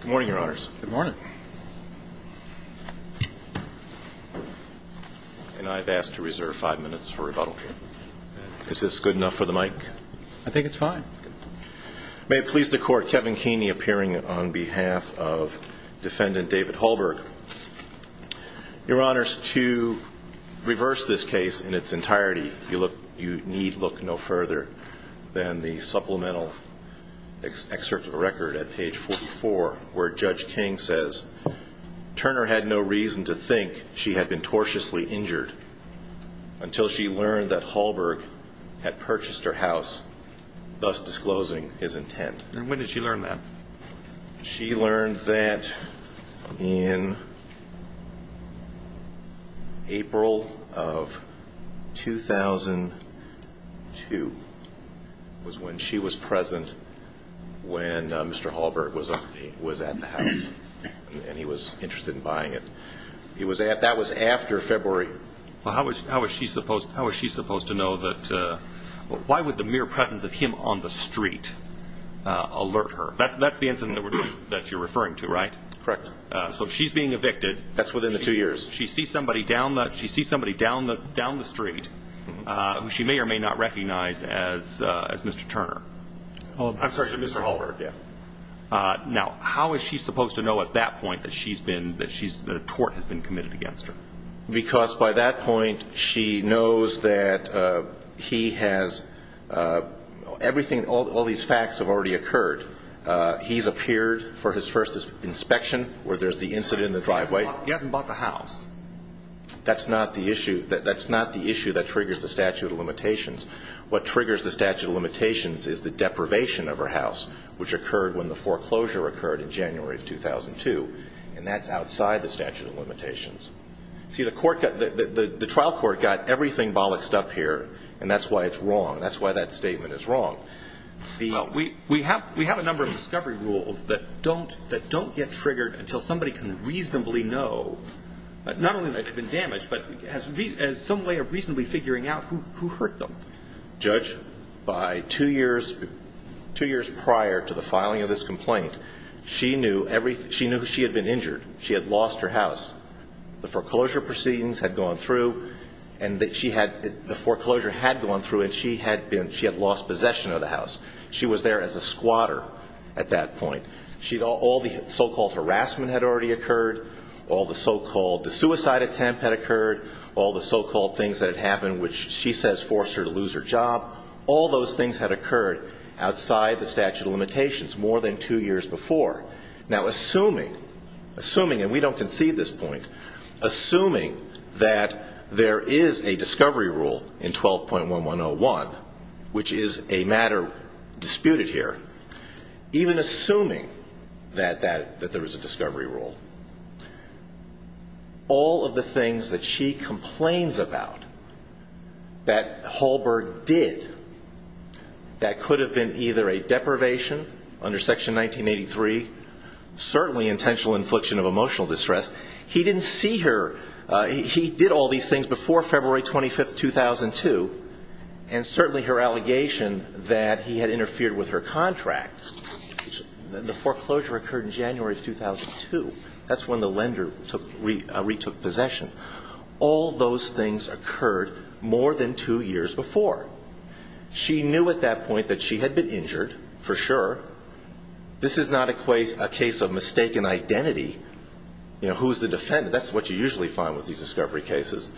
Good morning, your honors. Good morning. And I've asked to reserve five minutes for rebuttal. Is this good enough for the mic? I think it's fine. May it please the court, Kevin Keeney appearing on behalf of defendant David Hallberg. Your honors, to reverse this case in its entirety, you need look no further than the supplemental excerpt of the record at page 44, where Judge King says, Turner had no reason to think she had been tortiously injured until she learned that Hallberg had purchased her house, thus disclosing his intent. And when did she learn that? She learned that in April of 2002, was when she was present when Mr. Hallberg was at the house, and he was interested in buying it. That was after February. Well, how was she supposed to know that? Why would the mere presence of him on the street alert her? That's the incident that you're referring to, right? Correct. So she's being evicted. That's within the two years. She sees somebody down the street who she may or may not recognize as Mr. Turner. I'm sorry, Mr. Hallberg, yeah. Now, how is she supposed to know at that point that she's been, that she's, that a tort has been committed against her? Because by that point, she knows that he has, everything, all these facts have already occurred. He's appeared for his first inspection where there's the incident in the driveway. He hasn't bought the house. That's not the issue. That's not the issue that triggers the statute of limitations. What triggers the statute of limitations is the deprivation of her house, which occurred when the foreclosure occurred in January of 2002. And that's outside the statute of limitations. See, the trial court got everything bollocked up here, and that's why it's wrong. That's why that statement is wrong. We have a number of discovery rules that don't get triggered until somebody can not only have been damaged, but has some way of reasonably figuring out who hurt them. Judge, by two years, two years prior to the filing of this complaint, she knew everything. She knew she had been injured. She had lost her house. The foreclosure proceedings had gone through, and that she had, the foreclosure had gone through, and she had been, she had lost possession of the house. She was there as a squatter at that point. She, all the so-called harassment had already occurred. All the so-called, the suicide attempt had occurred. All the so-called things that had happened, which she says forced her to lose her job. All those things had occurred outside the statute of limitations more than two years before. Now, assuming, assuming, and we don't concede this point, assuming that there is a discovery rule in 12.1101, which is a matter disputed here, even assuming that, that, that there was a discovery rule, all of the things that she complains about that Hallberg did that could have been either a deprivation under Section 1983, certainly intentional infliction of emotional distress. He didn't see her, he did all these things before February 25th, 2002, and certainly her allegation that he had interfered with her contract. The foreclosure occurred in January of 2002. That's when the lender took, retook possession. All those things occurred more than two years before. She knew at that point that she had been injured, for sure. This is not a case, a case of mistaken identity. You know, who's the defendant? That's what you usually find with these discovery cases,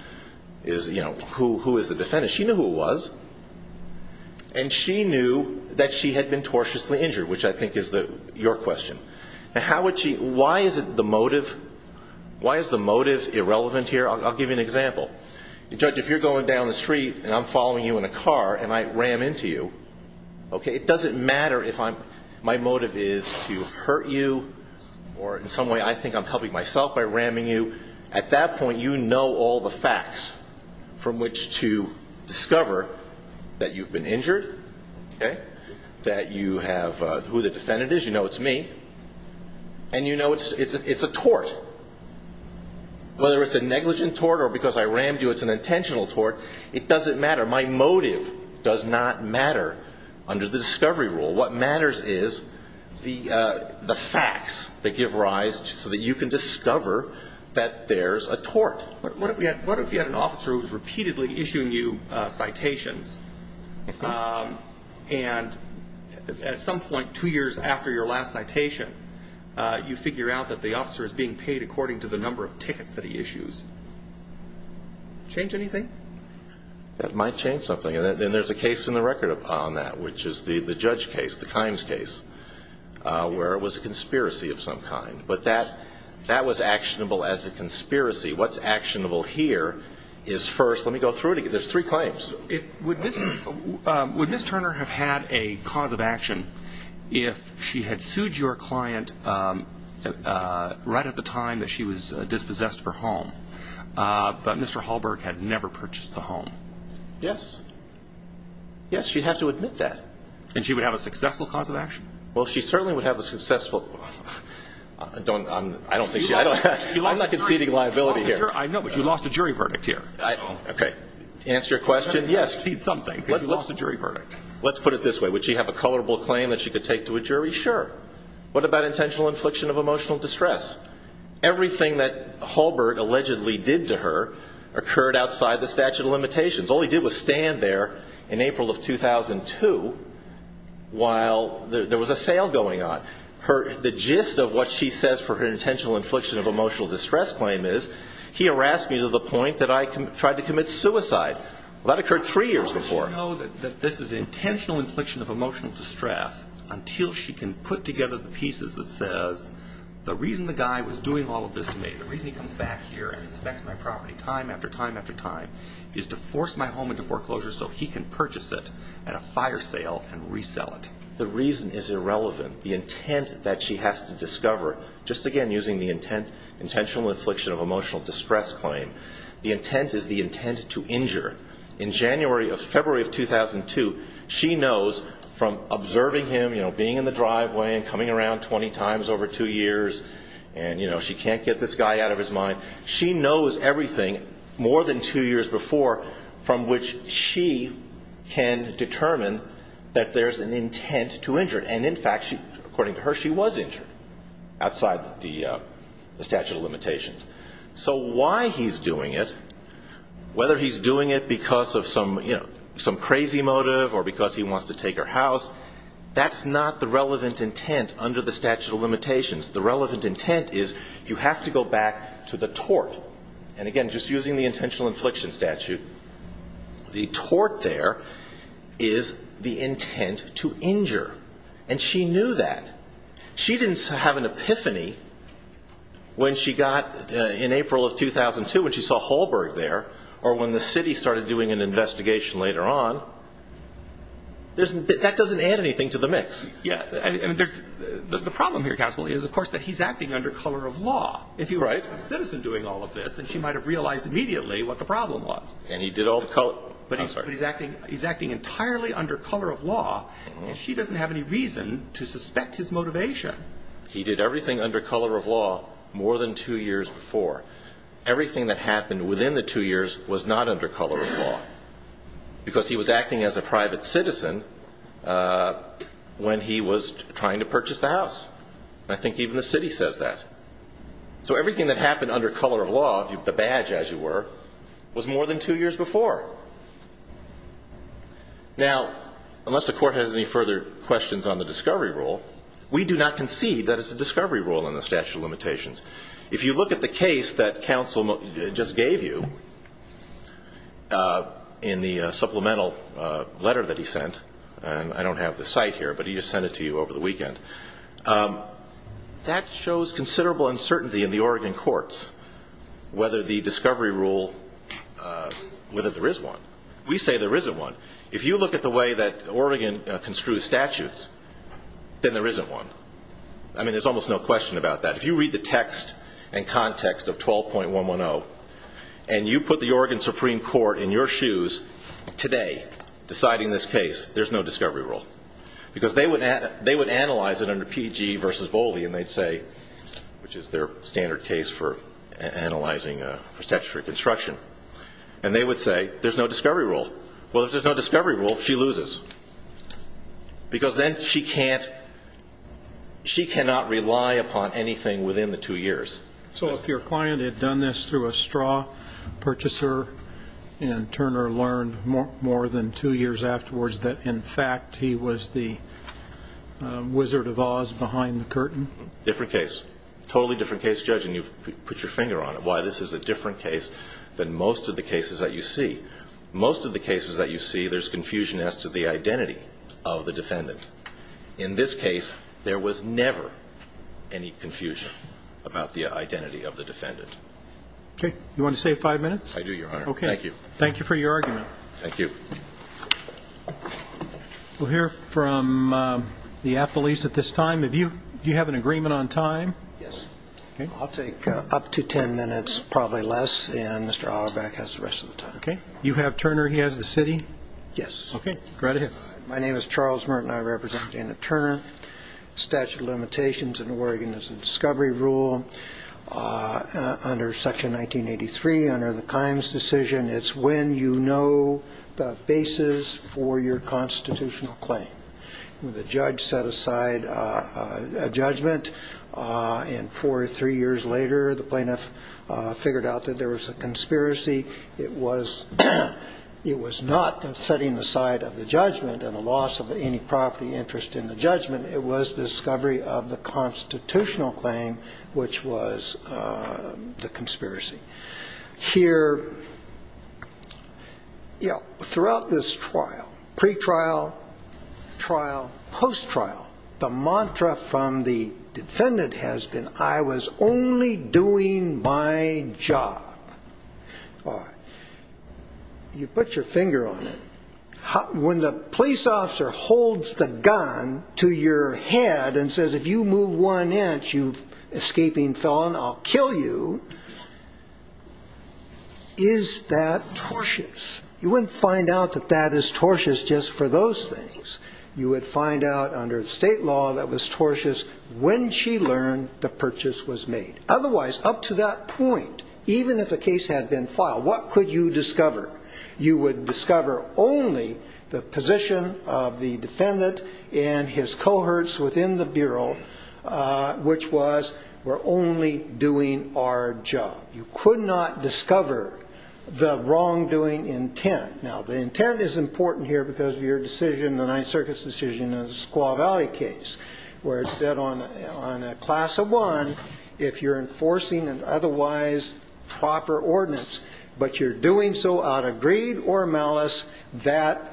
is, you know, who, who is the defendant? She knew who it was, and she knew that she had been tortiously injured, which I think is the, your question. Now, how would she, why is it the motive, why is the motive irrelevant here? I'll give you an example. Judge, if you're going down the street and I'm following you in a car and I ram into you, okay, it doesn't matter if I'm, my motive is to hurt you, or in some way I think I'm helping myself by ramming you. At that point, you know all the facts from which to discover that you've been injured, okay, that you have, who the defendant is, you know it's me, and you know it's, it's, it's a tort. Whether it's a negligent tort or because I rammed you, it's an intentional tort, it doesn't matter. My motive does not matter under the discovery rule. What matters is the, the facts that give rise so that you can discover that there's a tort. What if we had, what if you had an officer who was repeatedly issuing you citations, and at some point two years after your last citation, you figure out that the officer is being paid according to the number of tickets that he issues. Change anything? That might change something, and there's a case in the record upon that, which is the, the judge case, the Kimes case, where it was a conspiracy of some kind. But that, that was actionable as a conspiracy. What's actionable here is first, let me go through it again, there's three claims. It, would this, would Miss Turner have had a cause of action if she had sued your client right at the time that she was dispossessed of her home, but Mr. Hallberg had never purchased the home? Yes. Yes, she'd have to admit that. And she would have a successful cause of action? Well, she certainly would have a successful, I don't, I'm, I don't think she, I'm not conceding liability here. I know, but you lost a jury verdict here. I, okay. To answer your question, yes. You lost a jury verdict. Let's put it this way. Would she have a colorable claim that she could take to a jury? Sure. What about intentional infliction of emotional distress? Everything that Hallberg allegedly did to her occurred outside the statute of limitations. All he did was stand there in April of 2002 while there was a sale going on. Her, the gist of what she says for her intentional infliction of emotional distress claim is he harassed me to the point that I tried to commit suicide. Well, that occurred three years before. How would she know that this is intentional infliction of emotional distress until she can put together the pieces that says, the reason the guy was doing all of this to me, the reason he comes back here and inspects my property time after time after time is to force my home into foreclosure so he can purchase it at a fire sale and resell it. The reason is irrelevant. The intent that she has to discover, just again, using the intent, intentional infliction of emotional distress claim, the intent is the intent to injure. In January of February of 2002, she knows from observing him, you know, being in the driveway and coming around 20 times over two years and, you know, she can't get this guy out of his mind. She knows everything more than two years before from which she can determine that there's an according to her, she was injured outside the statute of limitations. So why he's doing it, whether he's doing it because of some, you know, some crazy motive or because he wants to take her house, that's not the relevant intent under the statute of limitations. The relevant intent is you have to go back to the tort. And again, just using the intentional infliction statute, the tort there is the intent to injure. And she knew that. She didn't have an epiphany when she got, in April of 2002, when she saw Hallberg there or when the city started doing an investigation later on. That doesn't add anything to the mix. Yeah. And the problem here, counsel, is, of course, that he's acting under color of law. If you write a citizen doing all of this, then she might have realized immediately what the problem was. And he did all the color. But he's acting entirely under color of law. And she doesn't have any reason to suspect his motivation. He did everything under color of law more than two years before. Everything that happened within the two years was not under color of law. Because he was acting as a private citizen when he was trying to purchase the house. I think even the city says that. So everything that happened under color of law, the badge, as you were, was more than two years before. Now, unless the court has any further questions on the discovery rule, we do not concede that it's a discovery rule in the statute of limitations. If you look at the case that counsel just gave you in the supplemental letter that he sent, and I don't have the site here, but he just sent it to you over the weekend, that shows considerable uncertainty in the Oregon courts whether the discovery rule, whether there is one. We say there isn't one. If you look at the way that Oregon construes statutes, then there isn't one. I mean, there's almost no question about that. If you read the text and context of 12.110, and you put the Oregon Supreme Court in your shoes today deciding this case, there's no discovery rule. Because they would analyze it under PEG versus Boley, and they'd say, which is their standard case for analyzing a statutory construction, and they would say there's no discovery rule. Well, if there's no discovery rule, she loses. Because then she cannot rely upon anything within the two years. So if your client had done this through a straw purchaser, and Turner learned more than two years afterwards that, in fact, he was the Wizard of Oz behind the curtain? Different case. Totally different case, Judge, and you've put your finger on it, why this is a different case than most of the cases that you see. Most of the cases that you see, there's confusion as to the identity of the defendant. In this case, there was never any confusion about the identity of the defendant. Okay. You want to save five minutes? I do, Your Honor. Okay. Thank you. Thank you for your argument. Thank you. We'll hear from the appellees at this time. Do you have an agreement on time? Yes. I'll take up to 10 minutes, probably less, and Mr. Auerbach has the rest of the time. Okay. You have Turner. He has the city? Yes. Okay. Go right ahead. My name is Charles Merton. I represent Dana Turner. Statute of limitations in Oregon is a discovery rule under Section 1983, under the Kimes decision. It's when you know the basis for your constitutional claim. The judge set aside a judgment, and four or three years later, the plaintiff figured out that there was a conspiracy. It was not setting aside of the judgment and the loss of any property interest in the judgment. It was discovery of the constitutional claim, which was the conspiracy. Here, throughout this trial, pre-trial, trial, post-trial, the mantra from the defendant has been, I was only doing my job. You put your finger on it. When the police officer holds the gun to your head and says, if you move one inch, you escaping felon, I'll kill you, is that tortious? You wouldn't find out that that is tortious just for those things. You would find out under state law that was tortious when she learned the purchase was made. Otherwise, up to that point, even if a case had been filed, what could you discover? You would discover only the position of the defendant and his cohorts within the bureau, which was, we're only doing our job. You could not discover the wrongdoing intent. Now, the intent is important here because of your decision, the Ninth Circuit's decision in the Squaw Valley case, where it said on a class of one, if you're enforcing an otherwise proper ordinance, but you're doing so out of greed or malice, that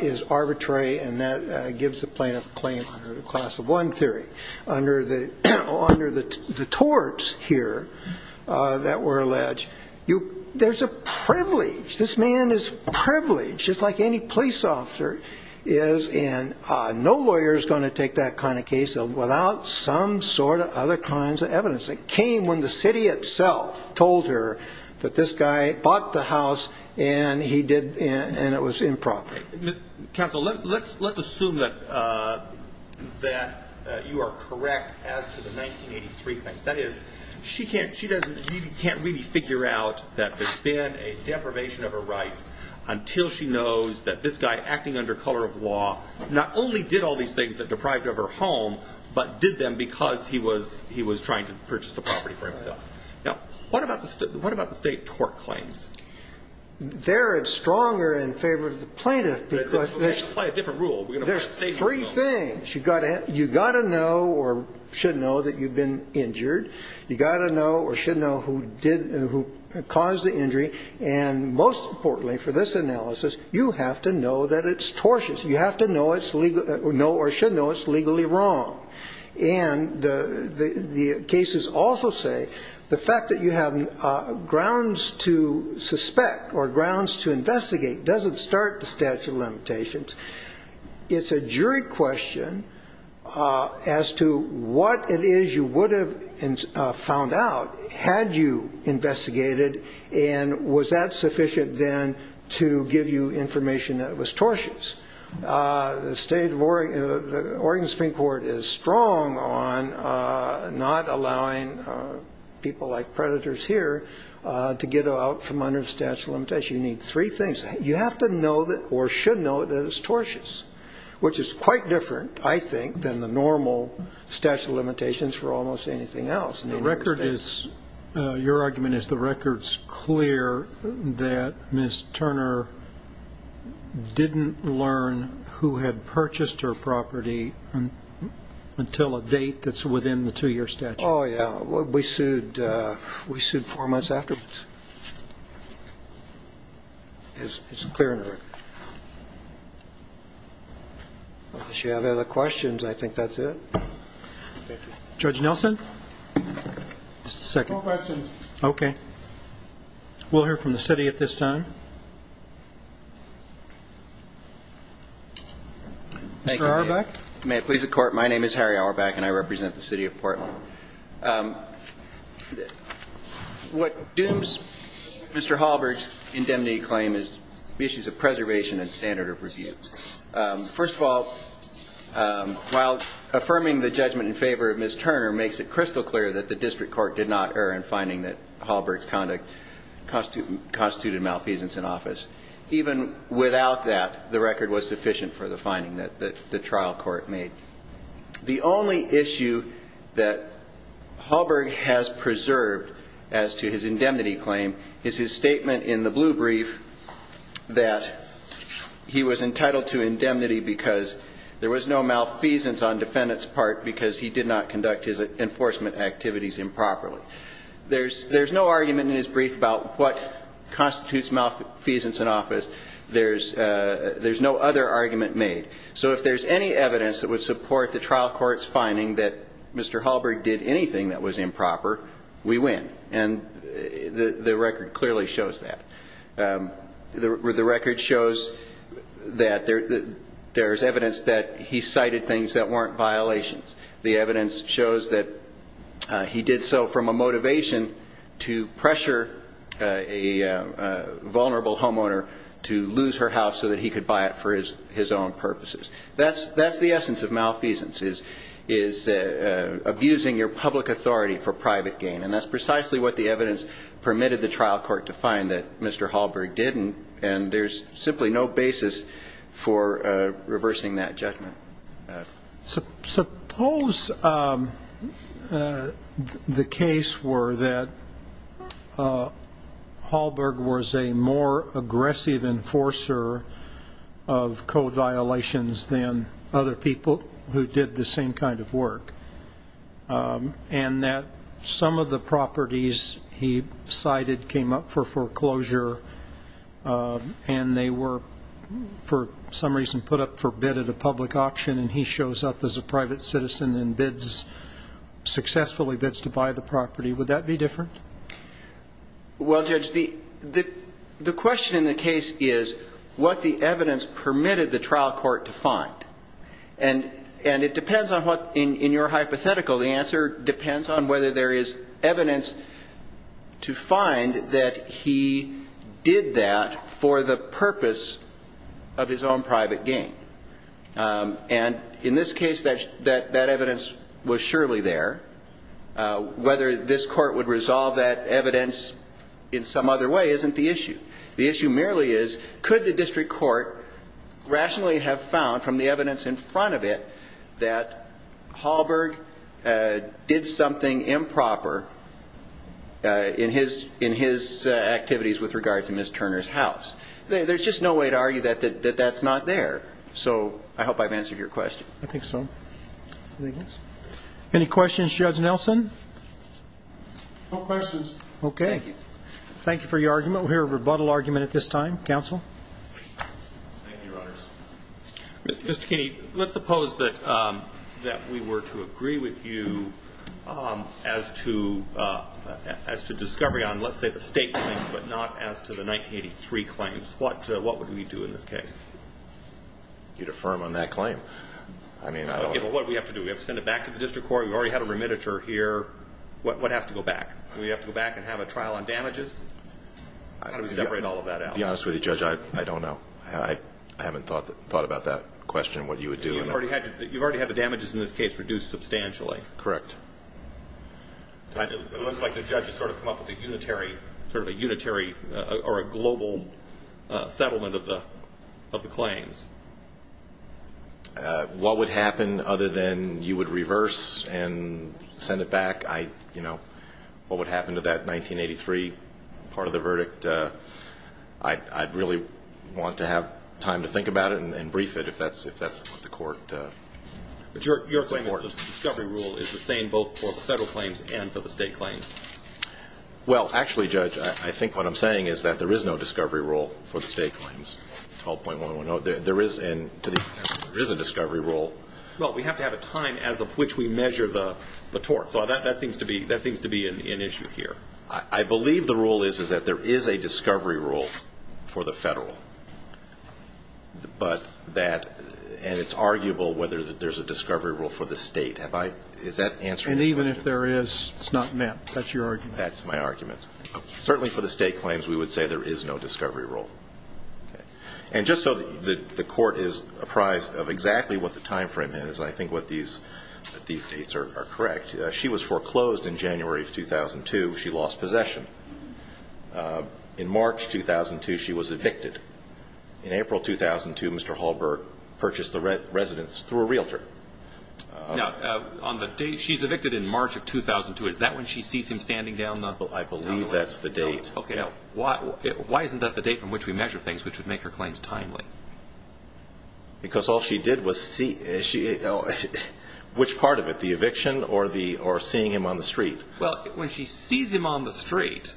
is arbitrary, and that gives the plaintiff a claim under the class of one theory. Under the torts here that were alleged, there's a privilege. This man is privileged, just like any police officer is, and no lawyer is going to take that kind of case without some sort of other kinds of evidence. It came when the city itself told her that this guy bought the house, and it was improper. Counsel, let's assume that you are correct as to the 1983 case. That is, she can't really figure out that there's been a deprivation of her rights until she knows that this guy, acting under color of law, not only did all these things that deprived her of her home, but did them because he was trying to purchase the property for himself. Now, what about the state tort claims? They're stronger in favor of the plaintiff because there's three things. You've got to know or should know that you've been injured. You've got to know or should know who caused the injury, and most importantly for this analysis, you have to know that it's tortious. You have to know or should know it's legally wrong. And the cases also say the fact that you have grounds to suspect or grounds to investigate doesn't start the statute of limitations. It's a jury question as to what it is you would have found out had you investigated, and was that sufficient then to give you information that was tortious? The Oregon Supreme Court is strong on not allowing people like predators here to get out from under the statute of limitations. You need three things. You have to know or should know that it's tortious, which is quite different, I think, than the normal statute of limitations for almost anything else. The record is, your argument is the record's clear that Ms. Turner didn't learn who had purchased her property until a date that's within the two-year statute. Oh, yeah. We sued four months afterwards. It's clear in the record. Unless you have other questions, I think that's it. Thank you. Judge Nelson? Just a second. No questions. Okay. We'll hear from the city at this time. Mr. Auerbach? May it please the Court? My name is Harry Auerbach, and I represent the City of Portland. What dooms Mr. Hallberg's indemnity claim is issues of preservation and standard of review. First of all, while affirming the judgment in favor of Ms. Turner makes it crystal clear that the district court did not err in finding that Hallberg's conduct constituted malfeasance in office. Even without that, the record was sufficient for the finding that the trial court made. The only issue that Hallberg has preserved as to his indemnity claim is his statement in the blue brief that he was entitled to indemnity because there was no malfeasance on defendant's part because he did not conduct his enforcement activities improperly. There's no argument in his brief about what constitutes malfeasance in office. There's no other argument made. So if there's any evidence that would support the trial court's finding that Mr. Hallberg did anything that was improper, we win. And the record clearly shows that. The record shows that there's evidence that he cited things that weren't violations. The evidence shows that he did so from a motivation to pressure a vulnerable homeowner to lose her house so that he could buy it for his own purposes. That's the essence of malfeasance, is abusing your public authority for private gain. That's precisely what the evidence permitted the trial court to find, that Mr. Hallberg didn't. And there's simply no basis for reversing that judgment. Suppose the case were that Hallberg was a more aggressive enforcer of code violations than other people who did the same kind of work. And that some of the properties he cited came up for foreclosure and they were, for some reason, put up for bid at a public auction and he shows up as a private citizen and successfully bids to buy the property. Would that be different? Well, Judge, the question in the case is what the evidence permitted the trial court to find. And it depends on what, in your hypothetical, the answer depends on whether there is evidence to find that he did that for the purpose of his own private gain. And in this case, that evidence was surely there. Whether this court would resolve that evidence in some other way isn't the issue. The issue merely is could the district court rationally have found from the evidence in front of it that Hallberg did something improper in his activities with regard to Ms. Turner's house. There's just no way to argue that that's not there. So I hope I've answered your question. I think so. Any questions, Judge Nelson? No questions. Okay. Thank you. Thank you for your argument. We'll hear a rebuttal argument at this time. Counsel? Thank you, Your Honors. Mr. Kinney, let's suppose that we were to agree with you as to discovery on, let's say, the state claim, but not as to the 1983 claims. What would we do in this case? You'd affirm on that claim. I mean, I don't know. What do we have to do? We have to send it back to the district court. We've already had a remittiture here. What has to go back? Do we have to go back and have a trial on damages? How do we separate all of that out? To be honest with you, Judge, I don't know. I haven't thought about that question, what you would do. You've already had the damages in this case reduced substantially. Correct. It looks like the judge has sort of come up with a unitary, sort of a unitary or a global settlement of the claims. What would happen other than you would reverse and send it back? You know, what would happen to that 1983 part of the verdict? I'd really want to have time to think about it and brief it, if that's what the court would support. Your claim is that the discovery rule is the same both for the federal claims and for the state claims. Well, actually, Judge, I think what I'm saying is that there is no discovery rule for the state claims, 12.110. There is, and to the extent there is a discovery rule. Well, we have to have a time as of which we measure the tort. So that seems to be an issue here. I believe the rule is that there is a discovery rule for the federal. But that, and it's arguable whether there's a discovery rule for the state. Have I, is that answer? And even if there is, it's not met. That's your argument. That's my argument. Certainly for the state claims, we would say there is no discovery rule. And just so that the court is apprised of exactly what the time frame is, I think what these dates are correct. She was foreclosed in January of 2002. She lost possession. In March 2002, she was evicted. In April 2002, Mr. Hallberg purchased the residence through a realtor. Now, on the date, she's evicted in March of 2002. Is that when she sees him standing down? Well, I believe that's the date. Okay, why isn't that the date from which we measure things which would make her claims timely? Because all she did was see, which part of it, the eviction or seeing him on the street? Well, when she sees him on the street,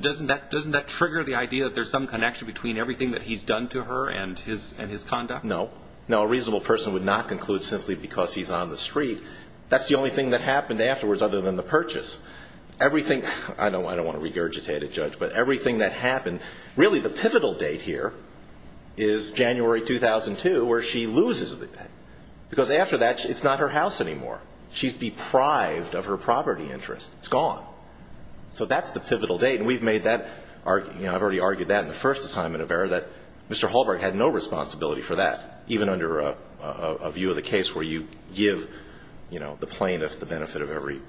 doesn't that trigger the idea that there's some connection between everything that he's done to her and his conduct? No. No, a reasonable person would not conclude simply because he's on the street. That's the only thing that happened afterwards other than the purchase. Everything, I don't want to regurgitate it, Judge, but everything that happened, really the pivotal date here is January 2002, where she loses the debt. Because after that, it's not her house anymore. She's deprived of her property interest. It's gone. So that's the pivotal date. And we've made that, I've already argued that in the first assignment of error, that Mr. Hallberg had no responsibility for that, even under a view of the case where you give the plaintiff the benefit of every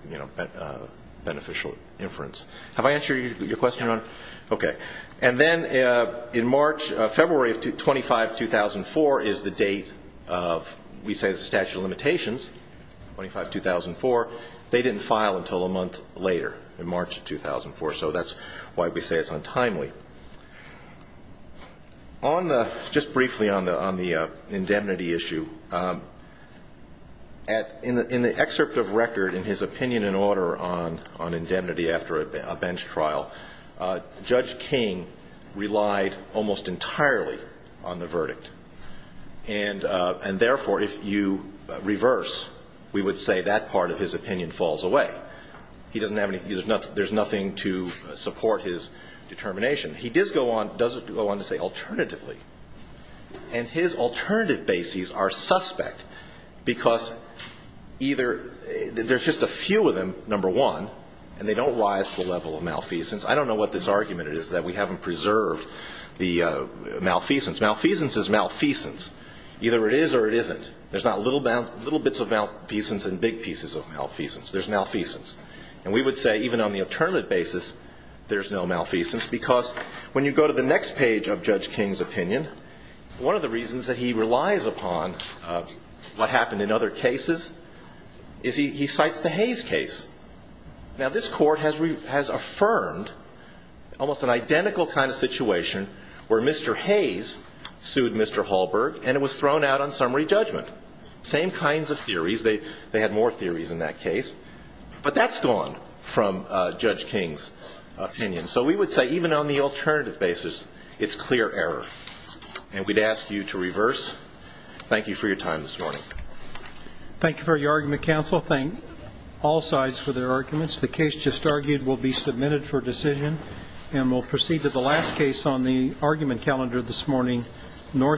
beneficial inference. Have I answered your question, Your Honor? OK. And then in March, February of 25, 2004 is the date of, we say, the statute of limitations, 25, 2004. They didn't file until a month later, in March of 2004. So that's why we say it's untimely. Just briefly on the indemnity issue, in the excerpt of record in his opinion and order on indemnity after a bench trial, Judge King relied almost entirely on the verdict. And therefore, if you reverse, we would say that part of his opinion falls away. There's nothing to support his determination. He does go on to say, alternatively. And his alternative bases are suspect, because either there's just a few of them, number one, and they don't rise to the level of malfeasance. I don't know what this argument is, that we haven't preserved the malfeasance. Malfeasance is malfeasance. Either it is or it isn't. There's not little bits of malfeasance and big pieces of malfeasance. There's malfeasance. And we would say, even on the alternative basis, there's no malfeasance. Because when you go to the next page of Judge King's opinion, one of the reasons that he relies upon what happened in other cases is he cites the Hayes case. Now, this court has affirmed almost an identical kind of situation where Mr. Hayes sued Mr. Hallberg, and it was thrown out on summary judgment. Same kinds of theories. They had more theories in that case. But that's gone from Judge King's opinion. So we would say, even on the alternative basis, it's clear error. And we'd ask you to reverse. Thank you for your time this morning. Thank you for your argument, counsel. Thank all sides for their arguments. The case just argued will be submitted for decision, and we'll proceed to the last case on the argument calendar this morning, North.